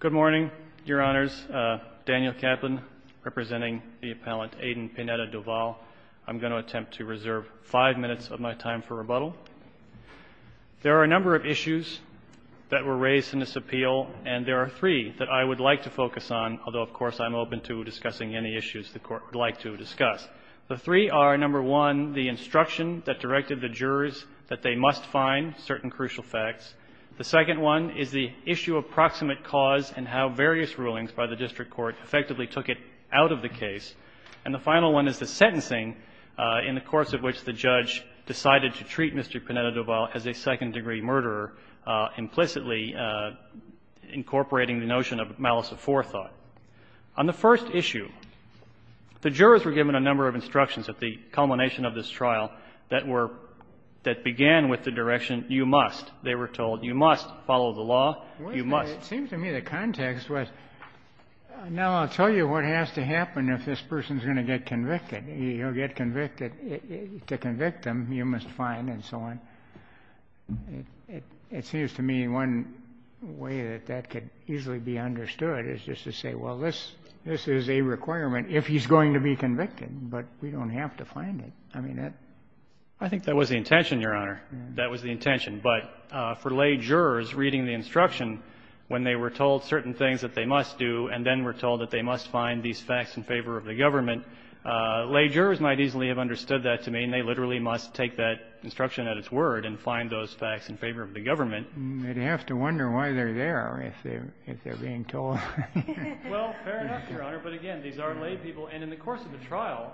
Good morning, Your Honors. Daniel Kaplan, representing the appellant Adan Pineda-Doval. I'm going to attempt to reserve five minutes of my time for rebuttal. There are a number of issues that were raised in this appeal, and there are three that I would like to focus on, although, of course, I'm open to discussing any issues the Court would like to discuss. The three are, number one, the instruction that directed the jurors that they must find certain crucial facts. The second one is the issue of proximate cause and how various rulings by the district court effectively took it out of the case. And the final one is the sentencing in the course of which the judge decided to treat Mr. Pineda-Doval as a second-degree murderer, implicitly incorporating the notion of malice of forethought. On the first issue, the jurors were given a number of instructions at the culmination of this trial that were — that began with the direction, you must, they were told. You must follow the law. You must. It seems to me the context was, now I'll tell you what has to happen if this person's going to get convicted. He'll get convicted. To convict him, you must find, and so on. It seems to me one way that that could easily be understood is just to say, well, this is a requirement if he's going to be convicted, but we don't have to find it. I mean, that — I think that was the intention, Your Honor. That was the intention. But for lay jurors reading the instruction, when they were told certain things that they must do and then were told that they must find these facts in favor of the government, lay jurors might easily have understood that to mean they literally must take that instruction at its word and find those facts in favor of the government. You'd have to wonder why they're there if they're being told. Well, fair enough, Your Honor. But again, these are lay people. And in the course of the trial,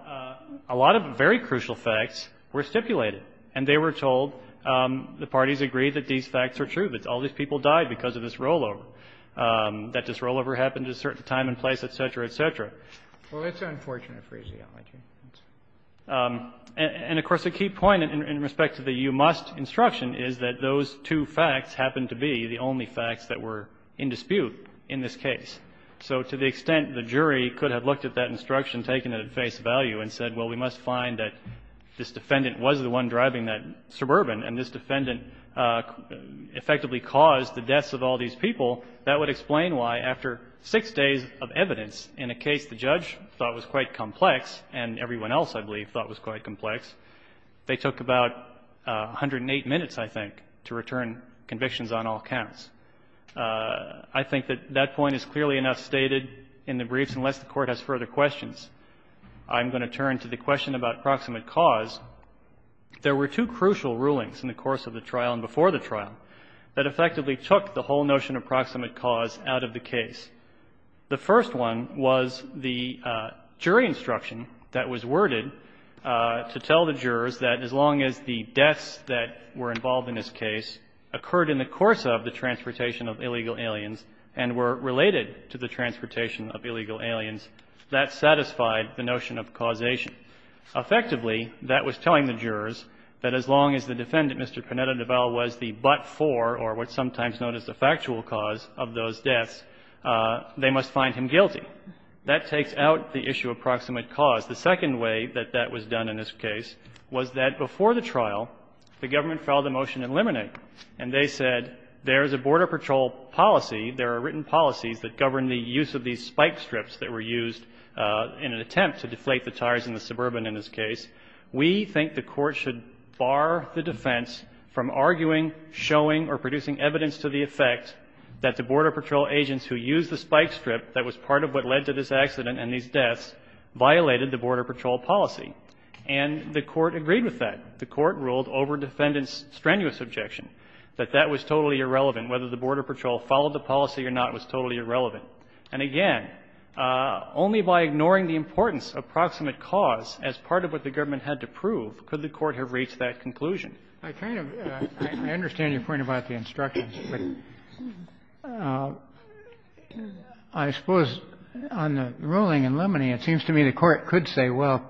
a lot of very crucial facts were stipulated, and they were told, the parties agreed that these facts are true, that all these people died because of this rollover, that this rollover happened at a certain time and place, et cetera, et cetera. Well, that's unfortunate phraseology. And, of course, a key point in respect to the you must instruction is that those two facts happened to be the only facts that were in dispute in this case. So to the extent the jury could have looked at that instruction, taken it at face value, and said, well, we must find that this defendant was the one driving that Suburban, and this defendant effectively caused the deaths of all these people, that would explain why, after six days of evidence in a case the judge thought was quite complex and everyone else, I believe, thought was quite complex, they took about 108 minutes, I think, to return convictions on all counts. I think that that point is clearly enough stated in the briefs, unless the Court has further questions. I'm going to turn to the question about proximate cause. There were two crucial rulings in the course of the trial and before the trial that effectively took the whole notion of proximate cause out of the case. The first one was the jury instruction that was worded to tell the jurors that as long as the deaths that were involved in this case occurred in the course of the transportation of illegal aliens and were related to the transportation of illegal aliens, that satisfied the notion of causation. Effectively, that was telling the jurors that as long as the defendant, Mr. Panetta-Devall, was the but-for or what's sometimes known as the factual cause of those deaths, they must find him guilty. That takes out the issue of proximate cause. The second way that that was done in this case was that before the trial, the government filed a motion to eliminate, and they said there is a Border Patrol policy, there are written policies that govern the use of these spike strips that were used in an attempt to deflate the tires in the suburban in this case. We think the Court should bar the defense from arguing, showing, or producing evidence to the effect that the Border Patrol agents who used the spike strip that was part of what led to this accident and these deaths violated the Border Patrol policy, and the Court agreed with that. The Court ruled over defendant's strenuous objection, that that was totally irrelevant. Whether the Border Patrol followed the policy or not was totally irrelevant. And again, only by ignoring the importance of proximate cause as part of what the government had to prove could the Court have reached that conclusion. I kind of, I understand your point about the instructions, but I suppose on the ruling in Lemony, it seems to me the Court could say, well,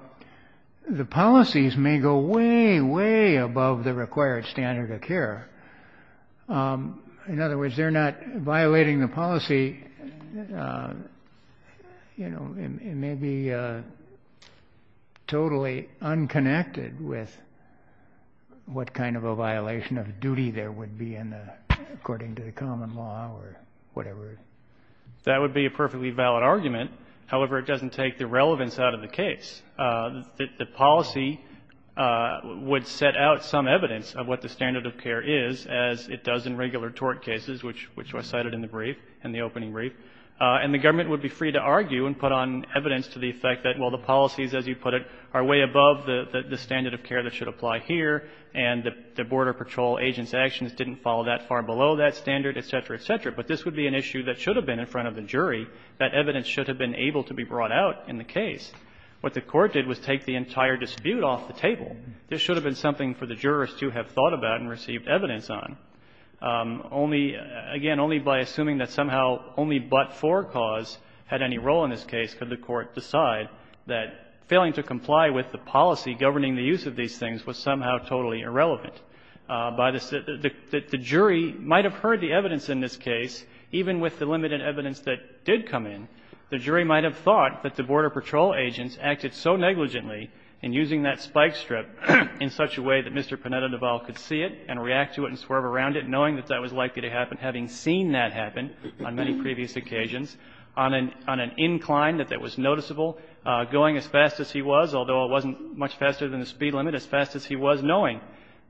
the policies may go way, way above In other words, they're not violating the policy. You know, it may be totally unconnected with what kind of a violation of duty there would be in the, according to the common law or whatever. That would be a perfectly valid argument. However, it doesn't take the relevance out of the case. The policy would set out some evidence of what the standard of care is, as it does in regular tort cases, which were cited in the brief, in the opening brief. And the government would be free to argue and put on evidence to the effect that, well, the policies, as you put it, are way above the standard of care that should apply here, and the Border Patrol agents' actions didn't fall that far below that standard, et cetera, et cetera. But this would be an issue that should have been in front of the jury. That evidence should have been able to be brought out in the case. What the Court did was take the entire dispute off the table. This should have been something for the jurors to have thought about and received evidence on. Only, again, only by assuming that somehow only but for cause had any role in this case could the Court decide that failing to comply with the policy governing the use of these things was somehow totally irrelevant. By the, the jury might have heard the evidence in this case, even with the limited evidence that did come in. The jury might have thought that the Border Patrol agents acted so negligently in using that spike strip in such a way that Mr. Panetta-Naval could see it and react to it and swerve around it, knowing that that was likely to happen, having seen that happen on many previous occasions, on an incline that was noticeable, going as fast as he was, although it wasn't much faster than the speed limit, as fast as he was, knowing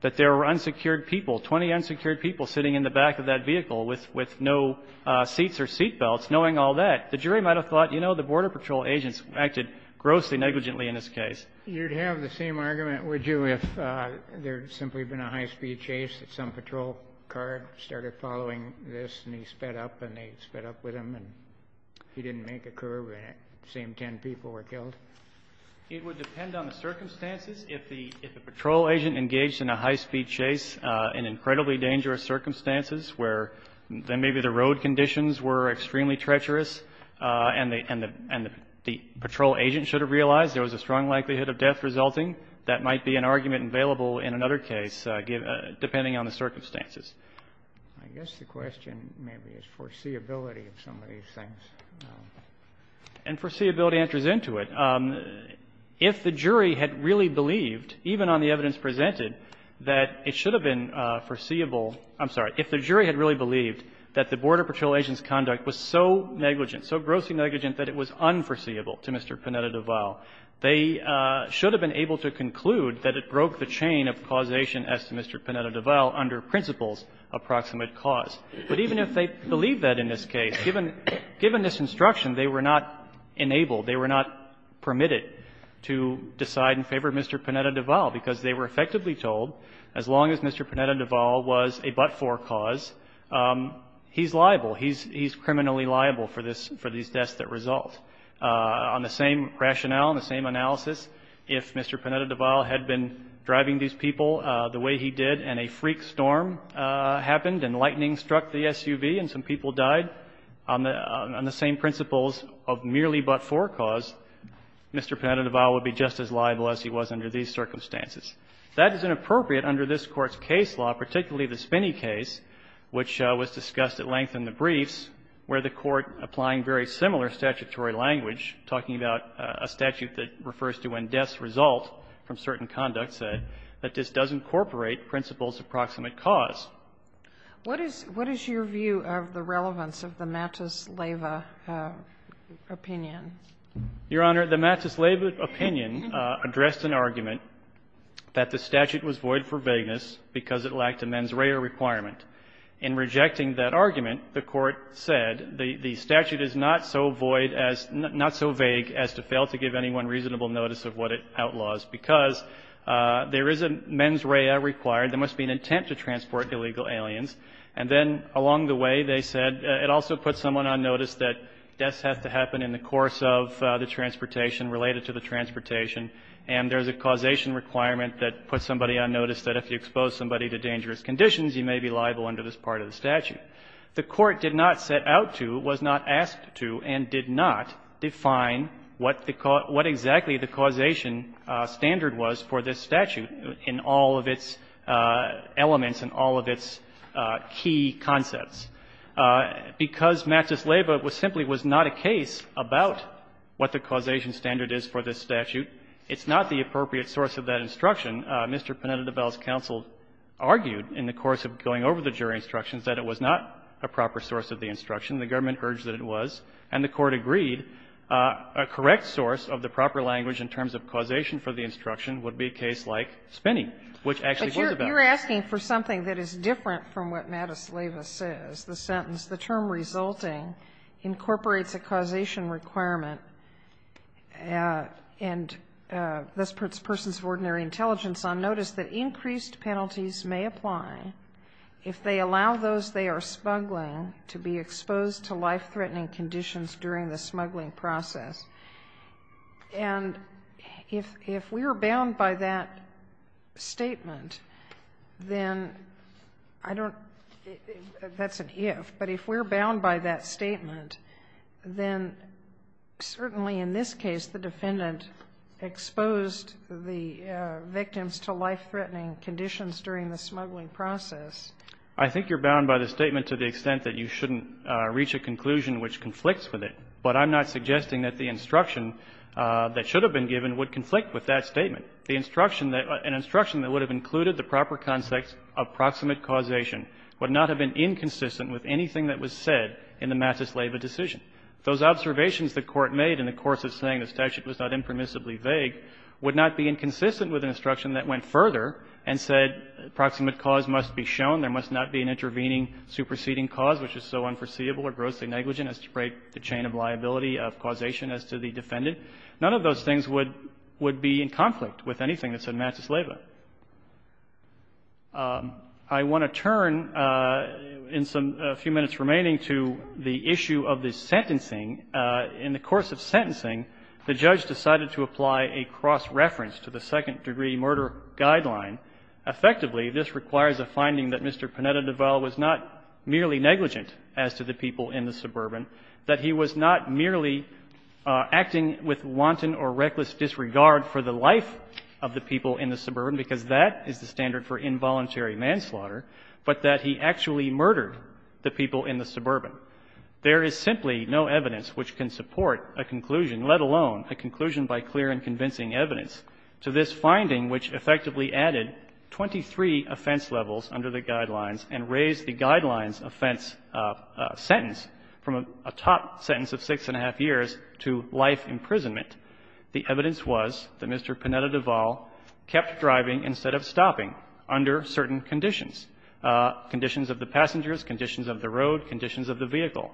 that there were unsecured people, 20 unsecured people sitting in the back of that vehicle with, with no seats or seatbelts, knowing all that. The jury might have thought, you know, the Border Patrol agents acted grossly negligently in this case. Kennedy. You'd have the same argument, would you, if there had simply been a high-speed chase, that some patrol car started following this and he sped up and they sped up with him and he didn't make a curve and the same ten people were killed? It would depend on the circumstances. If the, if the patrol agent engaged in a high-speed chase in incredibly dangerous circumstances where then maybe the road conditions were extremely treacherous and the, and the, and the patrol agent should have realized there was a strong likelihood of death resulting, that might be an argument available in another case, depending on the circumstances. I guess the question maybe is foreseeability of some of these things. And foreseeability enters into it. If the jury had really believed, even on the evidence presented, that it should have been foreseeable, I'm sorry, if the jury had really believed that the Border Patrol agent's conduct was so negligent, so grossly negligent that it was unforeseeable to Mr. Panetta-Duval, they should have been able to conclude that it broke the chain of causation as to Mr. Panetta-Duval under principles of proximate cause. But even if they believed that in this case, given, given this instruction, they were not enabled, they were not permitted to decide in favor of Mr. Panetta-Duval because they were effectively told as long as Mr. Panetta-Duval was a but-for cause, he's liable, he's, he's criminally liable for this, for these deaths that result. On the same rationale and the same analysis, if Mr. Panetta-Duval had been driving these people the way he did and a freak storm happened and lightning struck the SUV and some people died on the, on the same principles of merely but-for cause, Mr. Panetta-Duval would be just as liable as he was under these circumstances. That is inappropriate under this Court's case law, particularly the Spinney case, which was discussed at length in the briefs, where the Court, applying very similar statutory language, talking about a statute that refers to when deaths result from certain conduct, said that this does incorporate principles of proximate cause. What is, what is your view of the relevance of the Matus-Leva opinion? Your Honor, the Matus-Leva opinion addressed an argument that the statute was void for vagueness because it lacked a mens rea requirement. In rejecting that argument, the Court said the, the statute is not so void as, not so vague as to fail to give anyone reasonable notice of what it outlaws, because there is a mens rea required. There must be an intent to transport illegal aliens. And then along the way, they said it also puts someone on notice that deaths have to happen in the course of the transportation, related to the transportation. And there's a causation requirement that puts somebody on notice that if you expose somebody to dangerous conditions, you may be liable under this part of the statute. The Court did not set out to, was not asked to, and did not define what the, what exactly the causation standard was for this statute in all of its elements and all of its key concepts. Because Matus-Leva simply was not a case about what the causation standard is for this statute, it's not the appropriate source of that instruction. Mr. Pineda-DeVell's counsel argued in the course of going over the jury instructions that it was not a proper source of the instruction. The government urged that it was, and the Court agreed a correct source of the proper language in terms of causation for the instruction would be a case like Spinney, which actually was about it. Sotomayor, you're asking for something that is different from what Matus-Leva says, the sentence, the term resulting incorporates a causation requirement and thus puts persons of ordinary intelligence on notice that increased penalties may apply if they allow those they are smuggling to be exposed to life-threatening conditions during the smuggling process. And if we are bound by that statement, then I don't know if that's an if, but if we're bound by that statement, then certainly in this case the defendant exposed the victims to life-threatening conditions during the smuggling process. I think you're bound by the statement to the extent that you shouldn't reach a conclusion which conflicts with it, but I'm not suggesting that the instruction that should have been given would conflict with that statement. The instruction that an instruction that would have included the proper context of proximate causation would not have been inconsistent with anything that was said in the Matus-Leva decision. Those observations the Court made in the course of saying the statute was not impermissibly vague would not be inconsistent with an instruction that went further and said proximate cause must be shown, there must not be an intervening superseding cause, which is so important as to break the chain of liability of causation as to the defendant. None of those things would be in conflict with anything that's in Matus-Leva. I want to turn in a few minutes remaining to the issue of the sentencing. In the course of sentencing, the judge decided to apply a cross-reference to the second-degree murder guideline. Effectively, this requires a finding that Mr. Pineda-Deval was not merely negligent as to the people in the suburban, that he was not merely acting with wanton or reckless disregard for the life of the people in the suburban, because that is the standard for involuntary manslaughter, but that he actually murdered the people in the suburban. There is simply no evidence which can support a conclusion, let alone a conclusion by clear and convincing evidence, to this finding which effectively added 23 offense levels under the guidelines and raised the guidelines offense sentence from a top sentence of six and a half years to life imprisonment. The evidence was that Mr. Pineda-Deval kept driving instead of stopping under certain conditions, conditions of the passengers, conditions of the road, conditions of the vehicle.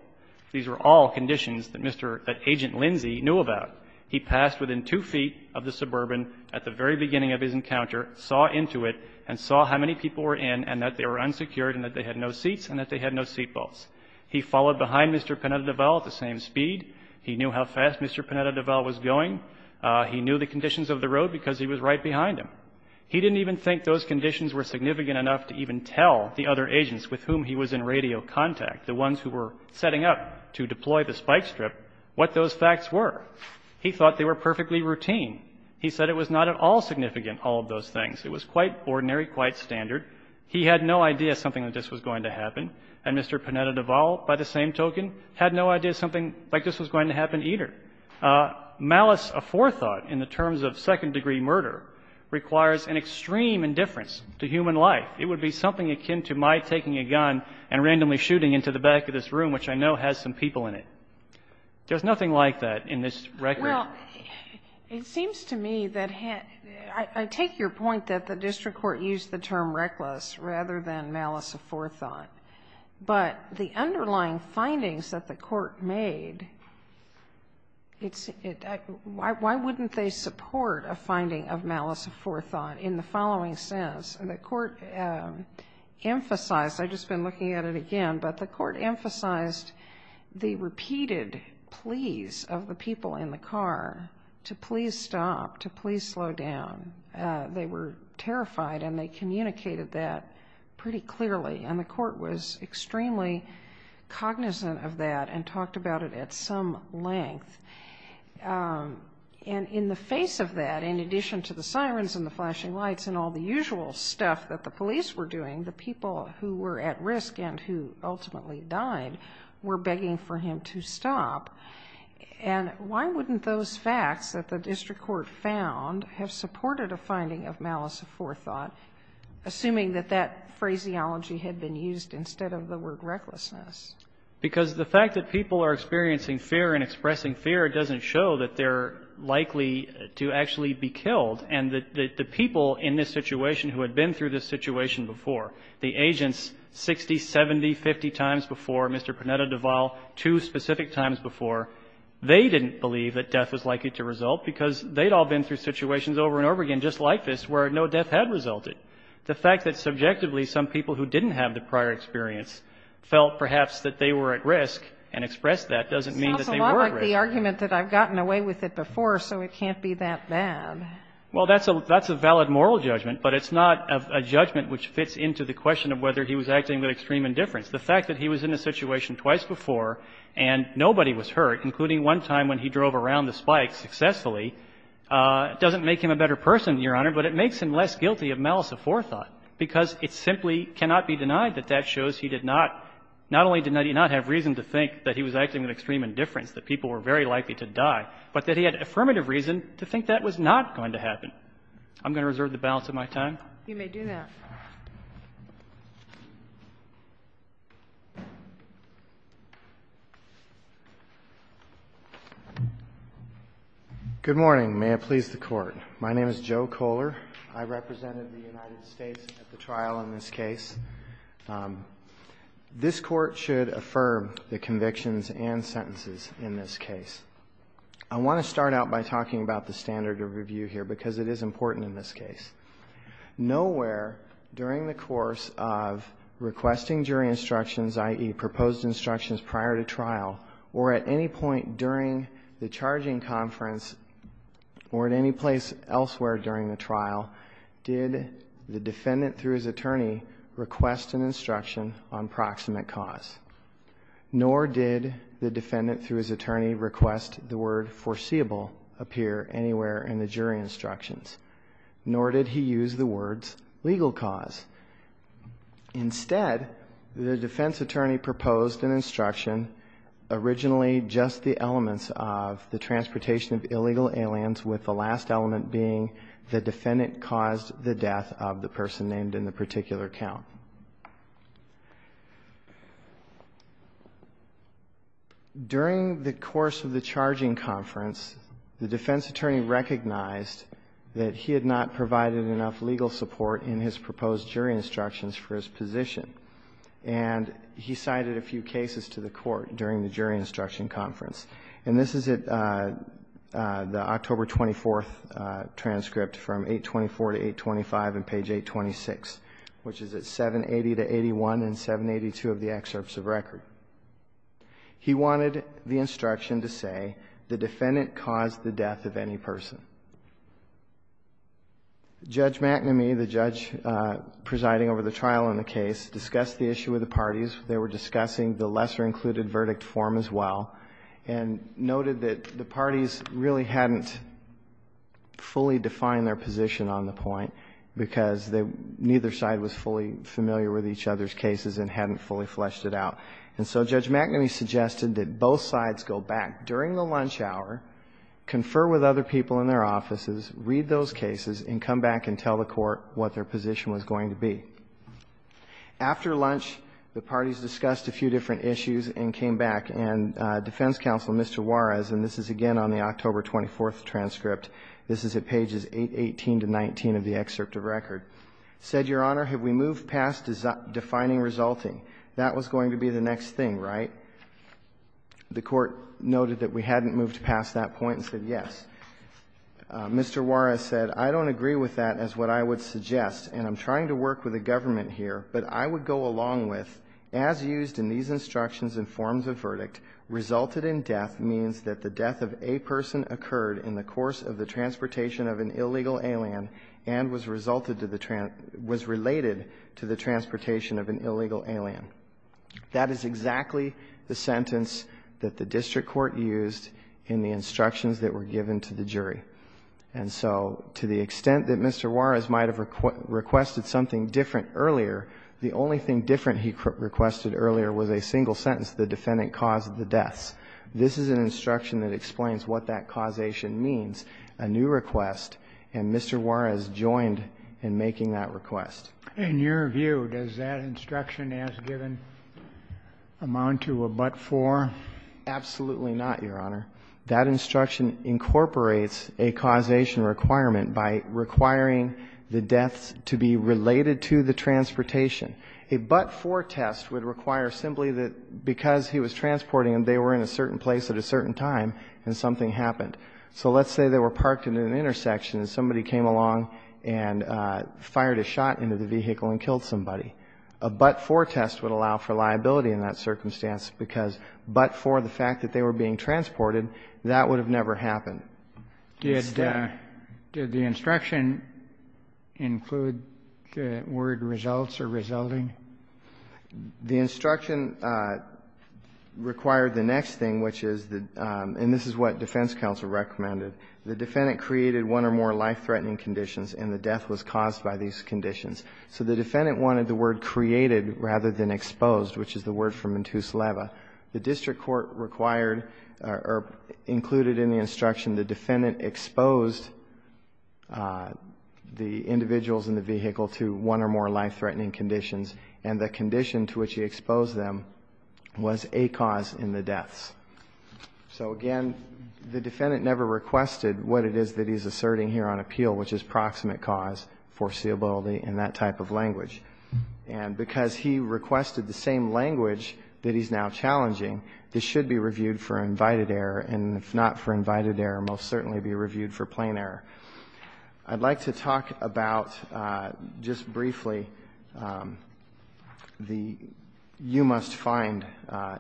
These were all conditions that Mr. — that Agent Lindsay knew about. He passed within two feet of the suburban at the very beginning of his encounter, saw into it, and saw how many people were in and that they were unsecured and that they had no seats and that they had no seatbelts. He followed behind Mr. Pineda-Deval at the same speed. He knew how fast Mr. Pineda-Deval was going. He knew the conditions of the road because he was right behind him. He didn't even think those conditions were significant enough to even tell the other agents with whom he was in radio contact, the ones who were setting up to deploy the spike strip, what those facts were. He thought they were perfectly routine. He said it was not at all significant, all of those things. It was quite ordinary, quite standard. He had no idea something like this was going to happen. And Mr. Pineda-Deval, by the same token, had no idea something like this was going to happen either. Malice aforethought in the terms of second-degree murder requires an extreme indifference to human life. It would be something akin to my taking a gun and randomly shooting into the back of this room, which I know has some people in it. There's nothing like that in this record. Well, it seems to me that I take your point that the district court used the term reckless rather than malice aforethought, but the underlying findings that the court made, why wouldn't they support a finding of malice aforethought in the following sense? The court emphasized, I've just been looking at it again, but the court emphasized the repeated pleas of the people in the car to please stop, to please slow down. They were terrified, and they communicated that pretty clearly. And the court was extremely cognizant of that and talked about it at some length. And in the face of that, in addition to the sirens and the flashing lights and all the usual stuff that the police were doing, the people who were at risk and who ultimately died were begging for him to stop. And why wouldn't those facts that the district court found have supported a finding of malice aforethought, assuming that that phraseology had been used instead of the word recklessness? Because the fact that people are experiencing fear and expressing fear doesn't show that they're likely to actually be killed. And the people in this situation who had been through this situation before, the two specific times before, they didn't believe that death was likely to result because they'd all been through situations over and over again just like this where no death had resulted. The fact that subjectively some people who didn't have the prior experience felt perhaps that they were at risk and expressed that doesn't mean that they were at risk. It sounds a lot like the argument that I've gotten away with it before, so it can't be that bad. Well, that's a valid moral judgment, but it's not a judgment which fits into the question of whether he was acting with extreme indifference. The fact that he was in a situation twice before and nobody was hurt, including one time when he drove around the spike successfully, doesn't make him a better person, Your Honor, but it makes him less guilty of malice aforethought, because it simply cannot be denied that that shows he did not, not only did he not have reason to think that he was acting with extreme indifference, that people were very likely to die, but that he had affirmative reason to think that was not going to happen. I'm going to reserve the balance of my time. You may do that. Good morning. May it please the Court. My name is Joe Kohler. I represented the United States at the trial in this case. This Court should affirm the convictions and sentences in this case. I want to start out by talking about the standard of review here because it is important in this case. Nowhere during the course of requesting jury instructions, i.e., proposed instructions prior to trial, or at any point during the charging conference or at any place elsewhere during the trial, did the defendant, through his attorney, request an instruction on proximate cause, nor did the defendant, through his attorney, request the word legal cause. Instead, the defense attorney proposed an instruction, originally just the elements of the transportation of illegal aliens, with the last element being the defendant caused the death of the person named in the particular count. During the course of the charging conference, the defense attorney recognized that he had not provided enough legal support in his proposed jury instructions for his position, and he cited a few cases to the Court during the jury instruction conference. And this is at the October 24th transcript from 824 to 825 in page 826, which is at 780 to 81 and 782 of the excerpts of record. He wanted the instruction to say the defendant caused the death of any person. Judge McNamee, the judge presiding over the trial in the case, discussed the issue with the parties. They were discussing the lesser-included verdict form as well, and noted that the parties really hadn't fully defined their position on the point, because neither side was fully familiar with each other's cases and hadn't fully fleshed it out. And so Judge McNamee suggested that both sides go back during the lunch hour, confer with other people in their offices, read those cases, and come back and tell the Court what their position was going to be. After lunch, the parties discussed a few different issues and came back. And defense counsel, Mr. Juarez, and this is again on the October 24th transcript, this is at pages 818 to 819 of the excerpt of record, said, Your Honor, have we moved past defining resulting? That was going to be the next thing, right? The Court noted that we hadn't moved past that point and said yes. Mr. Juarez said, I don't agree with that as what I would suggest, and I'm trying to work with the government here. But I would go along with, as used in these instructions and forms of verdict, resulted in death means that the death of a person occurred in the course of the transportation of an illegal alien and was resulted to the – was related to the transportation of an illegal alien. That is exactly the sentence that the district court used in the instructions that were given to the jury. And so to the extent that Mr. Juarez might have requested something different earlier, the only thing different he requested earlier was a single sentence, the defendant caused the deaths. This is an instruction that explains what that causation means, a new request, and Mr. Juarez joined in making that request. In your view, does that instruction as given amount to a but-for? Absolutely not, Your Honor. That instruction incorporates a causation requirement by requiring the deaths to be related to the transportation. A but-for test would require simply that because he was transporting them, they were in a certain place at a certain time and something happened. So let's say they were parked at an intersection and somebody came along and fired a shot into the vehicle and killed somebody. A but-for test would allow for liability in that circumstance because but for the fact that they were being transported, that would have never happened. Did the instruction include the word results or resulting? The instruction required the next thing, which is the – and this is what defense counsel recommended. The defendant created one or more life-threatening conditions and the death was caused by these conditions. So the defendant wanted the word created rather than exposed, which is the word from intus leva. The district court required or included in the instruction the defendant exposed the individuals in the vehicle to one or more life-threatening conditions and the condition to which he exposed them was a cause in the deaths. So again, the defendant never requested what it is that he's asserting here on appeal, which is proximate cause, foreseeability, and that type of language. And because he requested the same language that he's now challenging, this should be reviewed for invited error, and if not for invited error, most certainly be reviewed for plain error. I'd like to talk about just briefly the you-must-find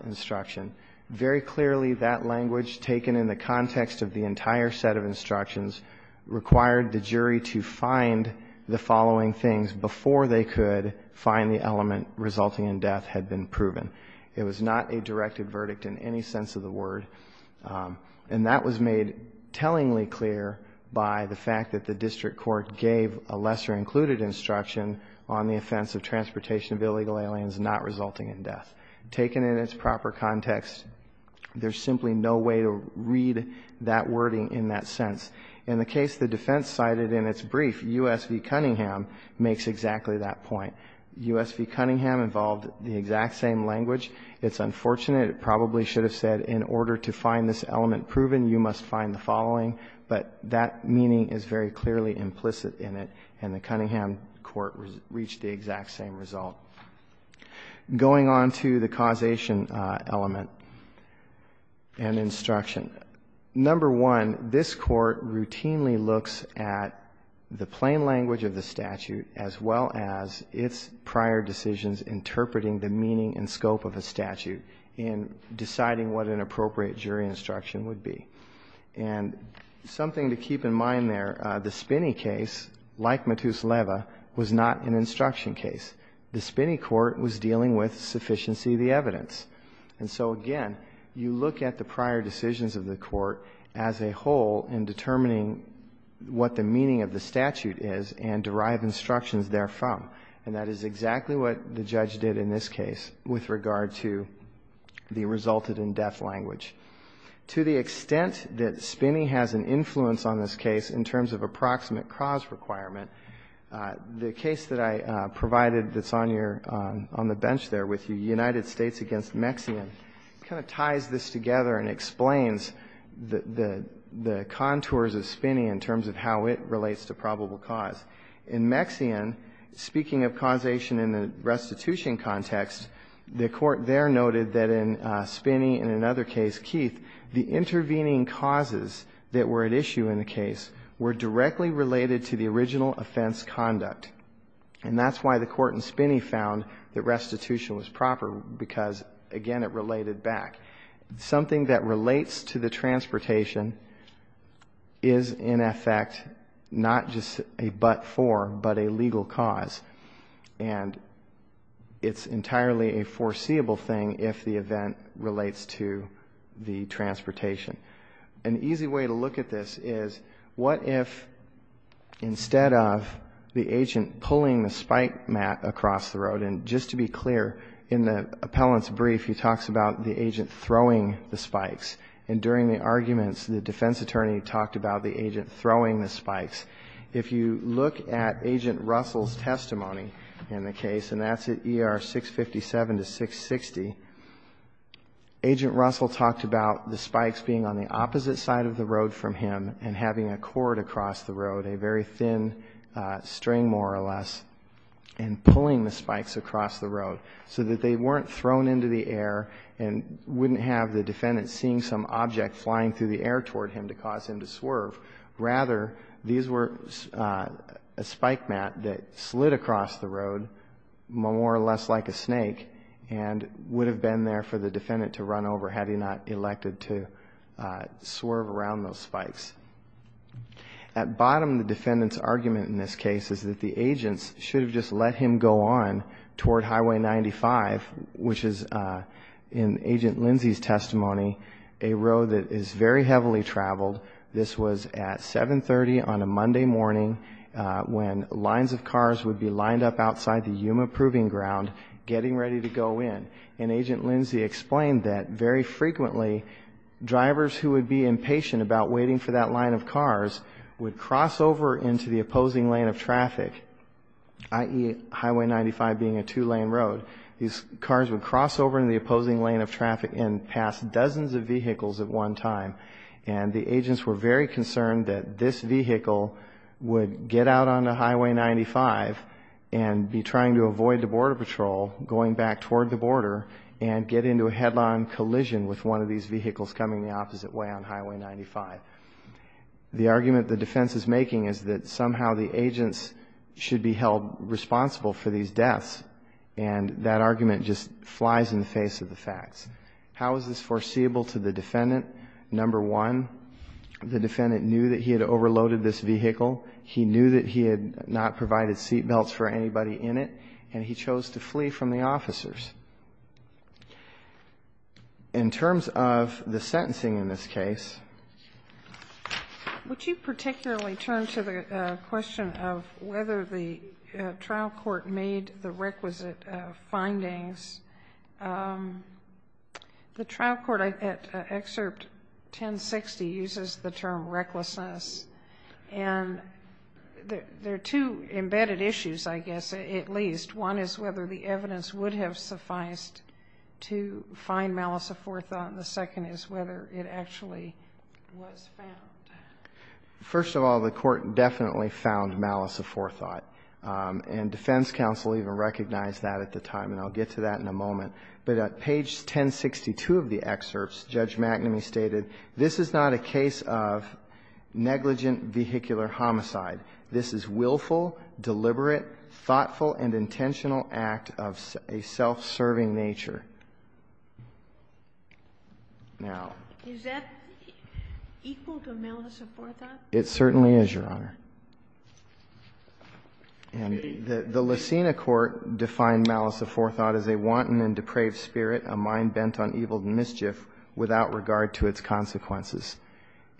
instruction. Very clearly, that language taken in the context of the entire set of instructions required the jury to find the following things before they could find the element resulting in death had been proven. It was not a directed verdict in any sense of the word. And that was made tellingly clear by the fact that the district court gave a lesser included instruction on the offense of transportation of illegal aliens not resulting in death. Taken in its proper context, there's simply no way to read that wording in that sense. In the case the defense cited in its brief, U.S. v. Cunningham makes exactly that point. U.S. v. Cunningham involved the exact same language. It's unfortunate. It probably should have said in order to find this element proven, you must find the following, but that meaning is very clearly implicit in it, and the Cunningham court reached the exact same result. Going on to the causation element and instruction. Number one, this Court routinely looks at the plain language of the statute as well as its prior decisions interpreting the meaning and scope of a statute in deciding what an appropriate jury instruction would be. And something to keep in mind there, the Spinney case, like Matus-Leva, was not an instruction case. The Spinney court was dealing with sufficiency of the evidence. And so again, you look at the prior decisions of the court as a whole in determining what the meaning of the statute is and derive instructions therefrom. And that is exactly what the judge did in this case with regard to the resulted in death language. To the extent that Spinney has an influence on this case in terms of approximate cause requirement, the case that I provided that's on your — on the bench there with you, United States v. Mexian, kind of ties this together and explains the contours of Spinney in terms of how it relates to probable cause. In Mexian, speaking of causation in the restitution context, the court there noted that in Spinney and in another case, Keith, the intervening causes that were at issue in the case were directly related to the original offense conduct. And that's why the court in Spinney found that restitution was proper because, again, it related back. Something that relates to the transportation is, in effect, not just a but for, but a legal cause. And it's entirely a foreseeable thing if the event relates to the transportation. An easy way to look at this is what if instead of the agent pulling the spike mat across the road, and just to be clear, in the appellant's brief he talks about the agent throwing the spikes, and during the arguments the defense attorney talked about the agent throwing the spikes. If you look at Agent Russell's testimony in the case, and that's at ER 657 to 660, Agent Russell talked about the spikes being on the opposite side of the road from him and having a cord across the road, a very thin string more or less, and pulling the spikes across the road so that they weren't thrown into the air and wouldn't have the defendant seeing some object flying through the air toward him to cause him to swerve. Rather, these were a spike mat that slid across the road more or less like a snake and would have been there for the defendant to run over had he not elected to swerve around those spikes. At bottom, the defendant's argument in this case is that the agents should have just let him go on toward Highway 95, which is in Agent Lindsay's testimony, a road that is very heavily traveled. This was at 730 on a Monday morning when lines of cars would be lined up outside the facility to go in, and Agent Lindsay explained that very frequently drivers who would be impatient about waiting for that line of cars would cross over into the opposing lane of traffic, i.e., Highway 95 being a two-lane road. These cars would cross over into the opposing lane of traffic and pass dozens of vehicles at one time, and the agents were very concerned that this vehicle would get out onto Highway 95, back toward the border, and get into a headline collision with one of these vehicles coming the opposite way on Highway 95. The argument the defense is making is that somehow the agents should be held responsible for these deaths, and that argument just flies in the face of the facts. How is this foreseeable to the defendant? Number one, the defendant knew that he had overloaded this vehicle, he knew that he had not provided seatbelts for anybody in it, and he chose to flee from the officers. In terms of the sentencing in this case. Would you particularly turn to the question of whether the trial court made the requisite findings? The trial court at Excerpt 1060 uses the term recklessness. And there are two embedded issues, I guess, at least. One is whether the evidence would have sufficed to find malice of forethought, and the second is whether it actually was found. First of all, the court definitely found malice of forethought. And defense counsel even recognized that at the time, and I'll get to that in a moment. But at page 1062 of the excerpts, Judge McNamee stated, this is not a case of negligent vehicular homicide, this is willful, deliberate, thoughtful, and intentional act of a self-serving nature. Now. Is that equal to malice of forethought? It certainly is, Your Honor. And the Lucena court defined malice of forethought as a wanton and depraved spirit, a mind bent on evil mischief without regard to its consequences.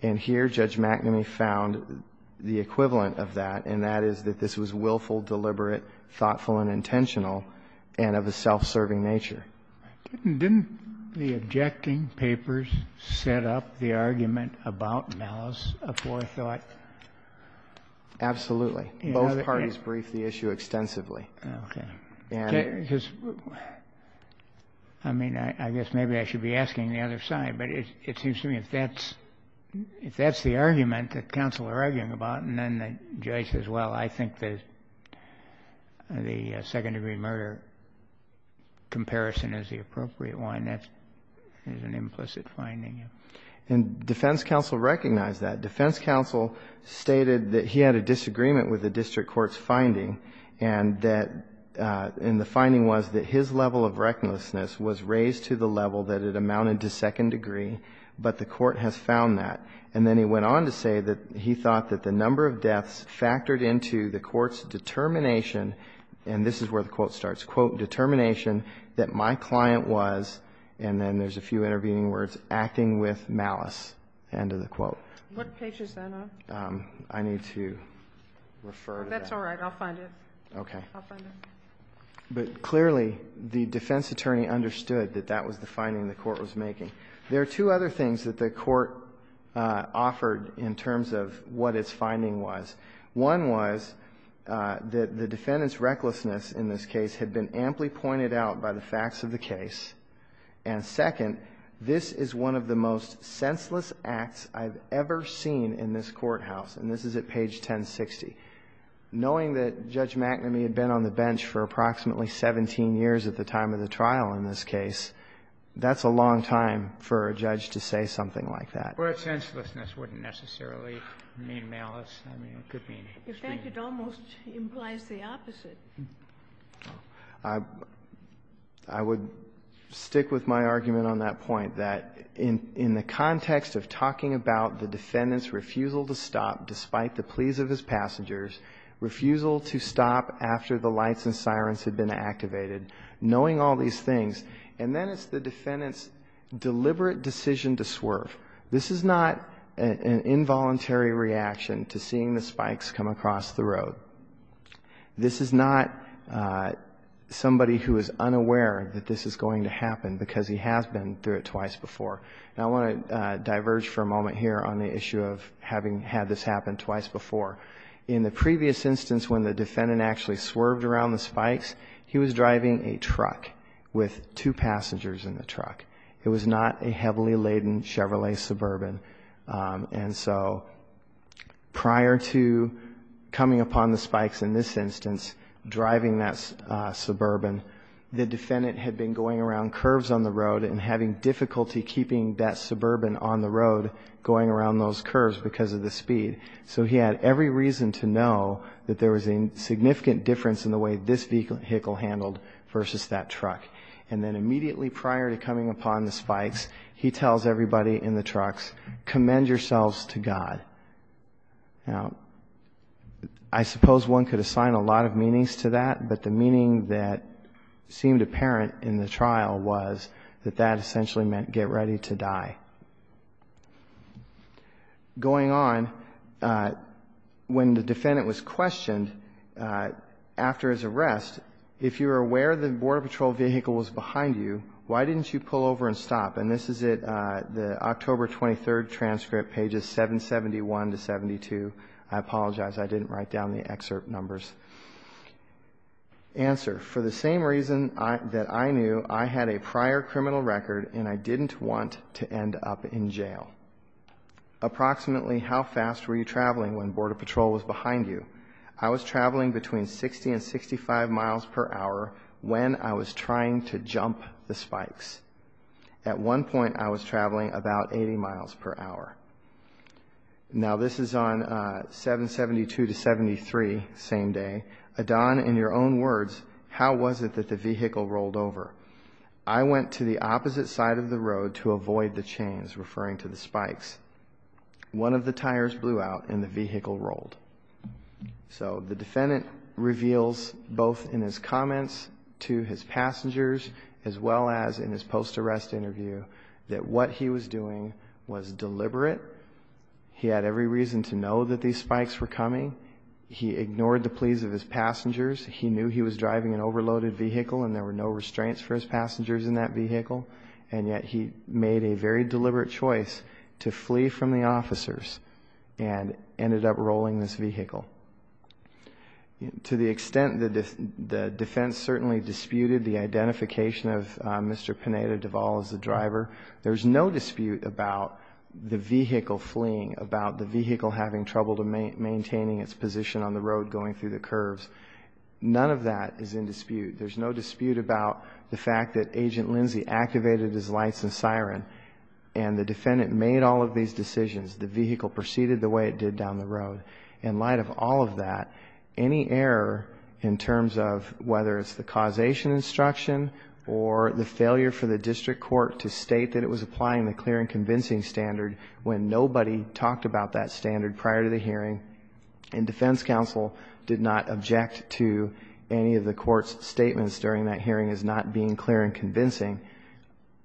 And here Judge McNamee found the equivalent of that, and that is that this was willful, deliberate, thoughtful, and intentional, and of a self-serving nature. Didn't the objecting papers set up the argument about malice of forethought? Absolutely. Both parties briefed the issue extensively. Okay. And. I mean, I guess maybe I should be asking the other side. But it seems to me if that's the argument that counsel are arguing about, and then the judge says, well, I think that the second-degree murder comparison is the appropriate one, that is an implicit finding. And defense counsel recognized that. Defense counsel stated that he had a disagreement with the district court's finding and that, and the finding was that his level of recklessness was raised to the level that it amounted to second degree, but the court has found that. And then he went on to say that he thought that the number of deaths factored into the court's determination, and this is where the quote starts, quote, determination that my client was, and then there's a few intervening words, acting with malice, end of the quote. What page is that on? I need to refer to that. That's all right. I'll find it. Okay. I'll find it. But clearly, the defense attorney understood that that was the finding the court was making. There are two other things that the court offered in terms of what its finding was. One was that the defendant's recklessness in this case had been amply pointed out by the facts of the case. And second, this is one of the most senseless acts I've ever seen in this courthouse, and this is at page 1060. Knowing that Judge McNamee had been on the bench for approximately 17 years at the time of the trial in this case, that's a long time for a judge to say something like that. Well, senselessness wouldn't necessarily mean malice. I mean, it could mean. In fact, it almost implies the opposite. I would stick with my argument on that point, that in the context of talking about the defendant's refusal to stop despite the pleas of his passengers, refusal to stop after the lights and sirens had been activated, knowing all these things, and then it's the defendant's deliberate decision to swerve. This is not an involuntary reaction to seeing the spikes come across the road. This is not somebody who is unaware that this is going to happen because he has been through it twice before. And I want to diverge for a moment here on the issue of having had this happen twice before. In the previous instance when the defendant actually swerved around the spikes, he was driving a truck with two passengers in the truck. It was not a heavily laden Chevrolet Suburban. And so prior to coming upon the spikes in this instance, driving that Suburban, the defendant had been going around curves on the road and having difficulty keeping that Suburban on the road going around those curves because of the speed. So he had every reason to know that there was a significant difference in the way this vehicle handled versus that truck. And then immediately prior to coming upon the spikes, he tells everybody in the truck, commend yourselves to God. Now, I suppose one could assign a lot of meanings to that, but the meaning that seemed apparent in the trial was that that essentially meant get ready to die. Going on, when the defendant was questioned after his arrest, if you were aware the Border Patrol vehicle was behind you, why didn't you pull over and stop? And this is it, the October 23rd transcript, pages 771 to 72. I apologize, I didn't write down the excerpt numbers. Answer, for the same reason that I knew, I had a prior criminal record and I didn't want to end up in jail. Approximately how fast were you traveling when Border Patrol was behind you? I was traveling between 60 and 65 miles per hour when I was trying to jump the spikes. At one point I was traveling about 80 miles per hour. Now, this is on 772 to 73, same day. Adon, in your own words, how was it that the vehicle rolled over? I went to the opposite side of the road to avoid the chains, referring to the spikes. One of the tires blew out and the vehicle rolled. So the defendant reveals, both in his comments to his passengers, as well as in his post-arrest interview, that what he was doing was deliberate. He had every reason to know that these spikes were coming. He ignored the pleas of his passengers. He knew he was driving an overloaded vehicle and there were no restraints for his passengers in that vehicle. To the extent that the defense certainly disputed the identification of Mr. Pineda Duvall as the driver, there's no dispute about the vehicle fleeing, about the vehicle having trouble maintaining its position on the road going through the curves. None of that is in dispute. There's no dispute about the fact that Agent Lindsay activated his lights and siren and the defendant made all of these decisions. The vehicle proceeded the way it did down the road. In light of all of that, any error in terms of whether it's the causation instruction or the failure for the district court to state that it was applying the clear and convincing standard when nobody talked about that standard prior to the hearing and defense counsel did not object to any of the court's statements during that hearing as not being clear and convincing,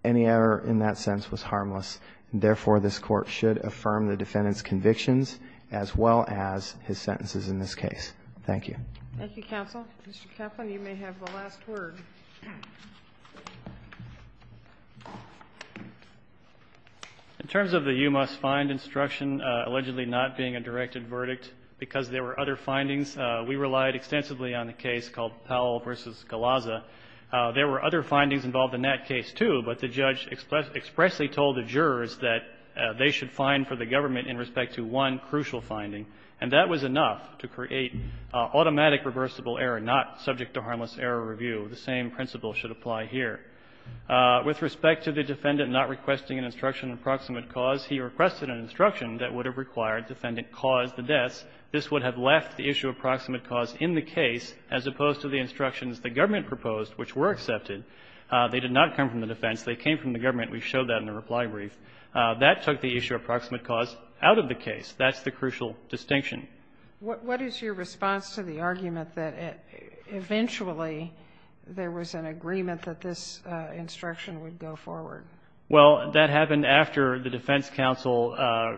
any error in that sense was harmless. Therefore, this Court should affirm the defendant's convictions as well as his sentences in this case. Thank you. Thank you, counsel. Mr. Kaplan, you may have the last word. In terms of the you-must-find instruction allegedly not being a directed verdict because there were other findings, we relied extensively on a case called Powell v. Galazza. There were other findings involved in that case, too, but the judge expressly told the jurors that they should find for the government in respect to one crucial finding, and that was enough to create automatic reversible error, not subject to harmless error review. The same principle should apply here. With respect to the defendant not requesting an instruction of proximate cause, he requested an instruction that would have required defendant cause the deaths. This would have left the issue of proximate cause in the case as opposed to the instructions the government proposed, which were accepted. They did not come from the defense. They came from the government. We showed that in the reply brief. That took the issue of proximate cause out of the case. That's the crucial distinction. What is your response to the argument that eventually there was an agreement that this instruction would go forward? Well, that happened after the defense counsel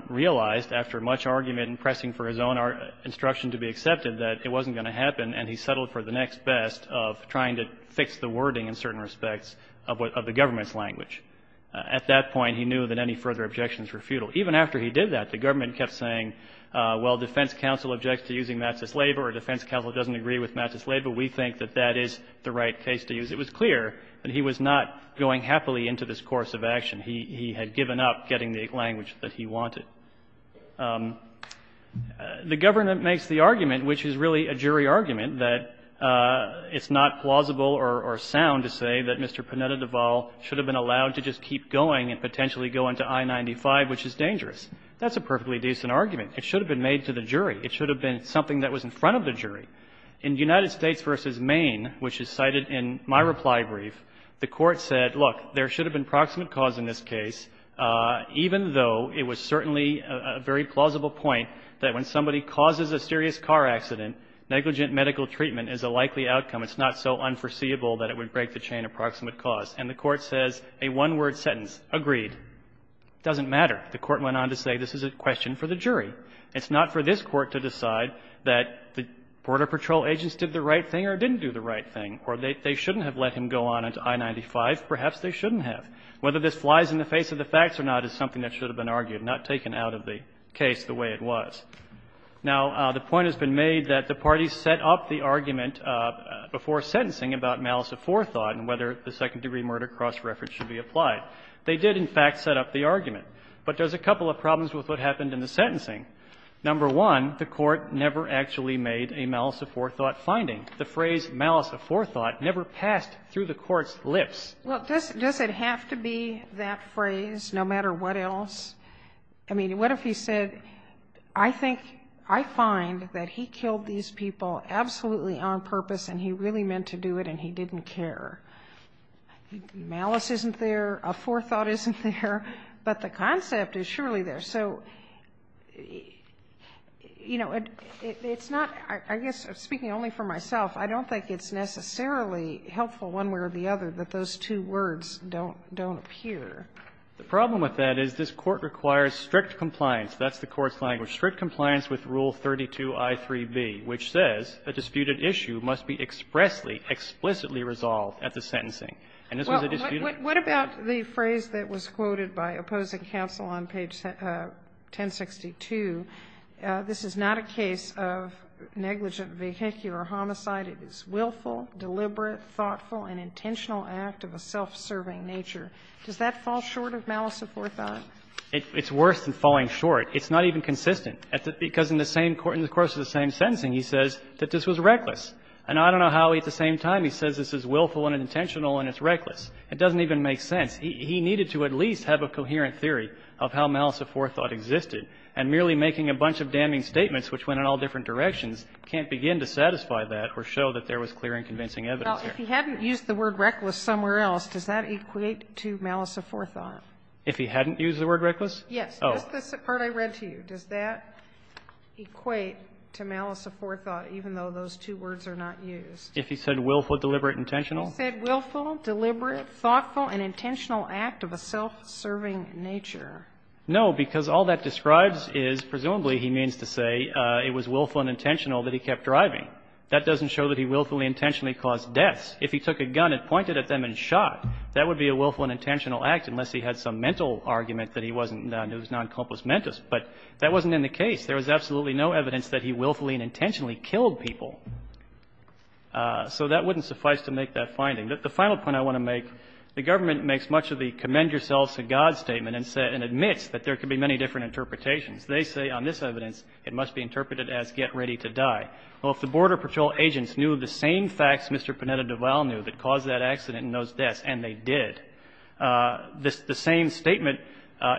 realized, after much argument and pressing for his own instruction to be accepted, that it wasn't going to happen, and he settled for the next best of trying to fix the wording in certain respects of the government's language. At that point, he knew that any further objections were futile. Even after he did that, the government kept saying, well, defense counsel objects to using matzah slave or defense counsel doesn't agree with matzah slave, but we think that that is the right case to use. It was clear that he was not going happily into this course of action. He had given up getting the language that he wanted. The government makes the argument, which is really a jury argument, that it's not plausible or sound to say that Mr. Pineda-Deval should have been allowed to just keep going and potentially go into I-95, which is dangerous. That's a perfectly decent argument. It should have been made to the jury. It should have been something that was in front of the jury. In United States v. Maine, which is cited in my reply brief, the Court said, look, there should have been proximate cause in this case, even though it was certainly a very plausible point that when somebody causes a serious car accident, negligent medical treatment is a likely outcome. It's not so unforeseeable that it would break the chain of proximate cause. And the Court says a one-word sentence, agreed, doesn't matter. The Court went on to say this is a question for the jury. It's not for this Court to decide that the Border Patrol agents did the right thing or didn't do the right thing, or they shouldn't have let him go on into I-95. Perhaps they shouldn't have. Whether this flies in the face of the facts or not is something that should have been argued, not taken out of the case the way it was. Now, the point has been made that the parties set up the argument before sentencing about malice aforethought and whether the second-degree murder cross-reference should be applied. They did, in fact, set up the argument. But there's a couple of problems with what happened in the sentencing. Number one, the Court never actually made a malice-aforethought finding. The phrase malice-aforethought never passed through the Court's lips. Well, does it have to be that phrase, no matter what else? I mean, what if he said, I think, I find that he killed these people absolutely on purpose and he really meant to do it and he didn't care. Malice isn't there. Aforethought isn't there. But the concept is surely there. So, you know, it's not, I guess, speaking only for myself, I don't think it's necessarily helpful one way or the other that those two words don't appear. The problem with that is this Court requires strict compliance. That's the Court's language. It requires strict compliance with Rule 32i3b, which says a disputed issue must be expressly, explicitly resolved at the sentencing. And this was a disputed issue. What about the phrase that was quoted by opposing counsel on page 1062? This is not a case of negligent vehicular homicide. It is willful, deliberate, thoughtful, and intentional act of a self-serving nature. Does that fall short of malice-aforethought? It's worse than falling short. It's not even consistent. Because in the same court, in the course of the same sentencing, he says that this was reckless. And I don't know how at the same time he says this is willful and intentional and it's reckless. It doesn't even make sense. He needed to at least have a coherent theory of how malice-aforethought existed. And merely making a bunch of damning statements, which went in all different directions, can't begin to satisfy that or show that there was clear and convincing evidence there. Sotomayor If he hadn't used the word reckless somewhere else, does that equate to malice-aforethought? If he hadn't used the word reckless? Yes. Just this part I read to you. Does that equate to malice-aforethought, even though those two words are not used? If he said willful, deliberate, intentional? He said willful, deliberate, thoughtful, and intentional act of a self-serving nature. No, because all that describes is presumably he means to say it was willful and intentional that he kept driving. That doesn't show that he willfully intentionally caused deaths. If he took a gun and pointed at them and shot, that would be a willful and intentional act, unless he had some mental argument that he wasn't noncomplismentous. But that wasn't in the case. There was absolutely no evidence that he willfully and intentionally killed people. So that wouldn't suffice to make that finding. The final point I want to make, the government makes much of the commend yourselves to God statement and admits that there could be many different interpretations. They say on this evidence it must be interpreted as get ready to die. Well, if the Border Patrol agents knew the same facts Mr. Panetta Duval knew that caused that accident and those deaths, and they did. The same statement,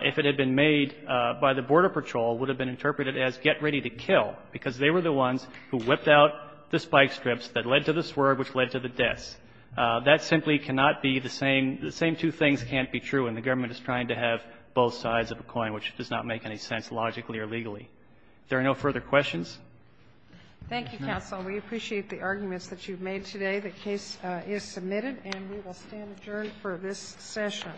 if it had been made by the Border Patrol, would have been interpreted as get ready to kill, because they were the ones who whipped out the spike strips that led to the swerve, which led to the deaths. That simply cannot be the same. The same two things can't be true, and the government is trying to have both sides of the coin, which does not make any sense logically or legally. If there are no further questions. Thank you, counsel. We appreciate the arguments that you've made today. The case is submitted, and we will stand adjourned for this session.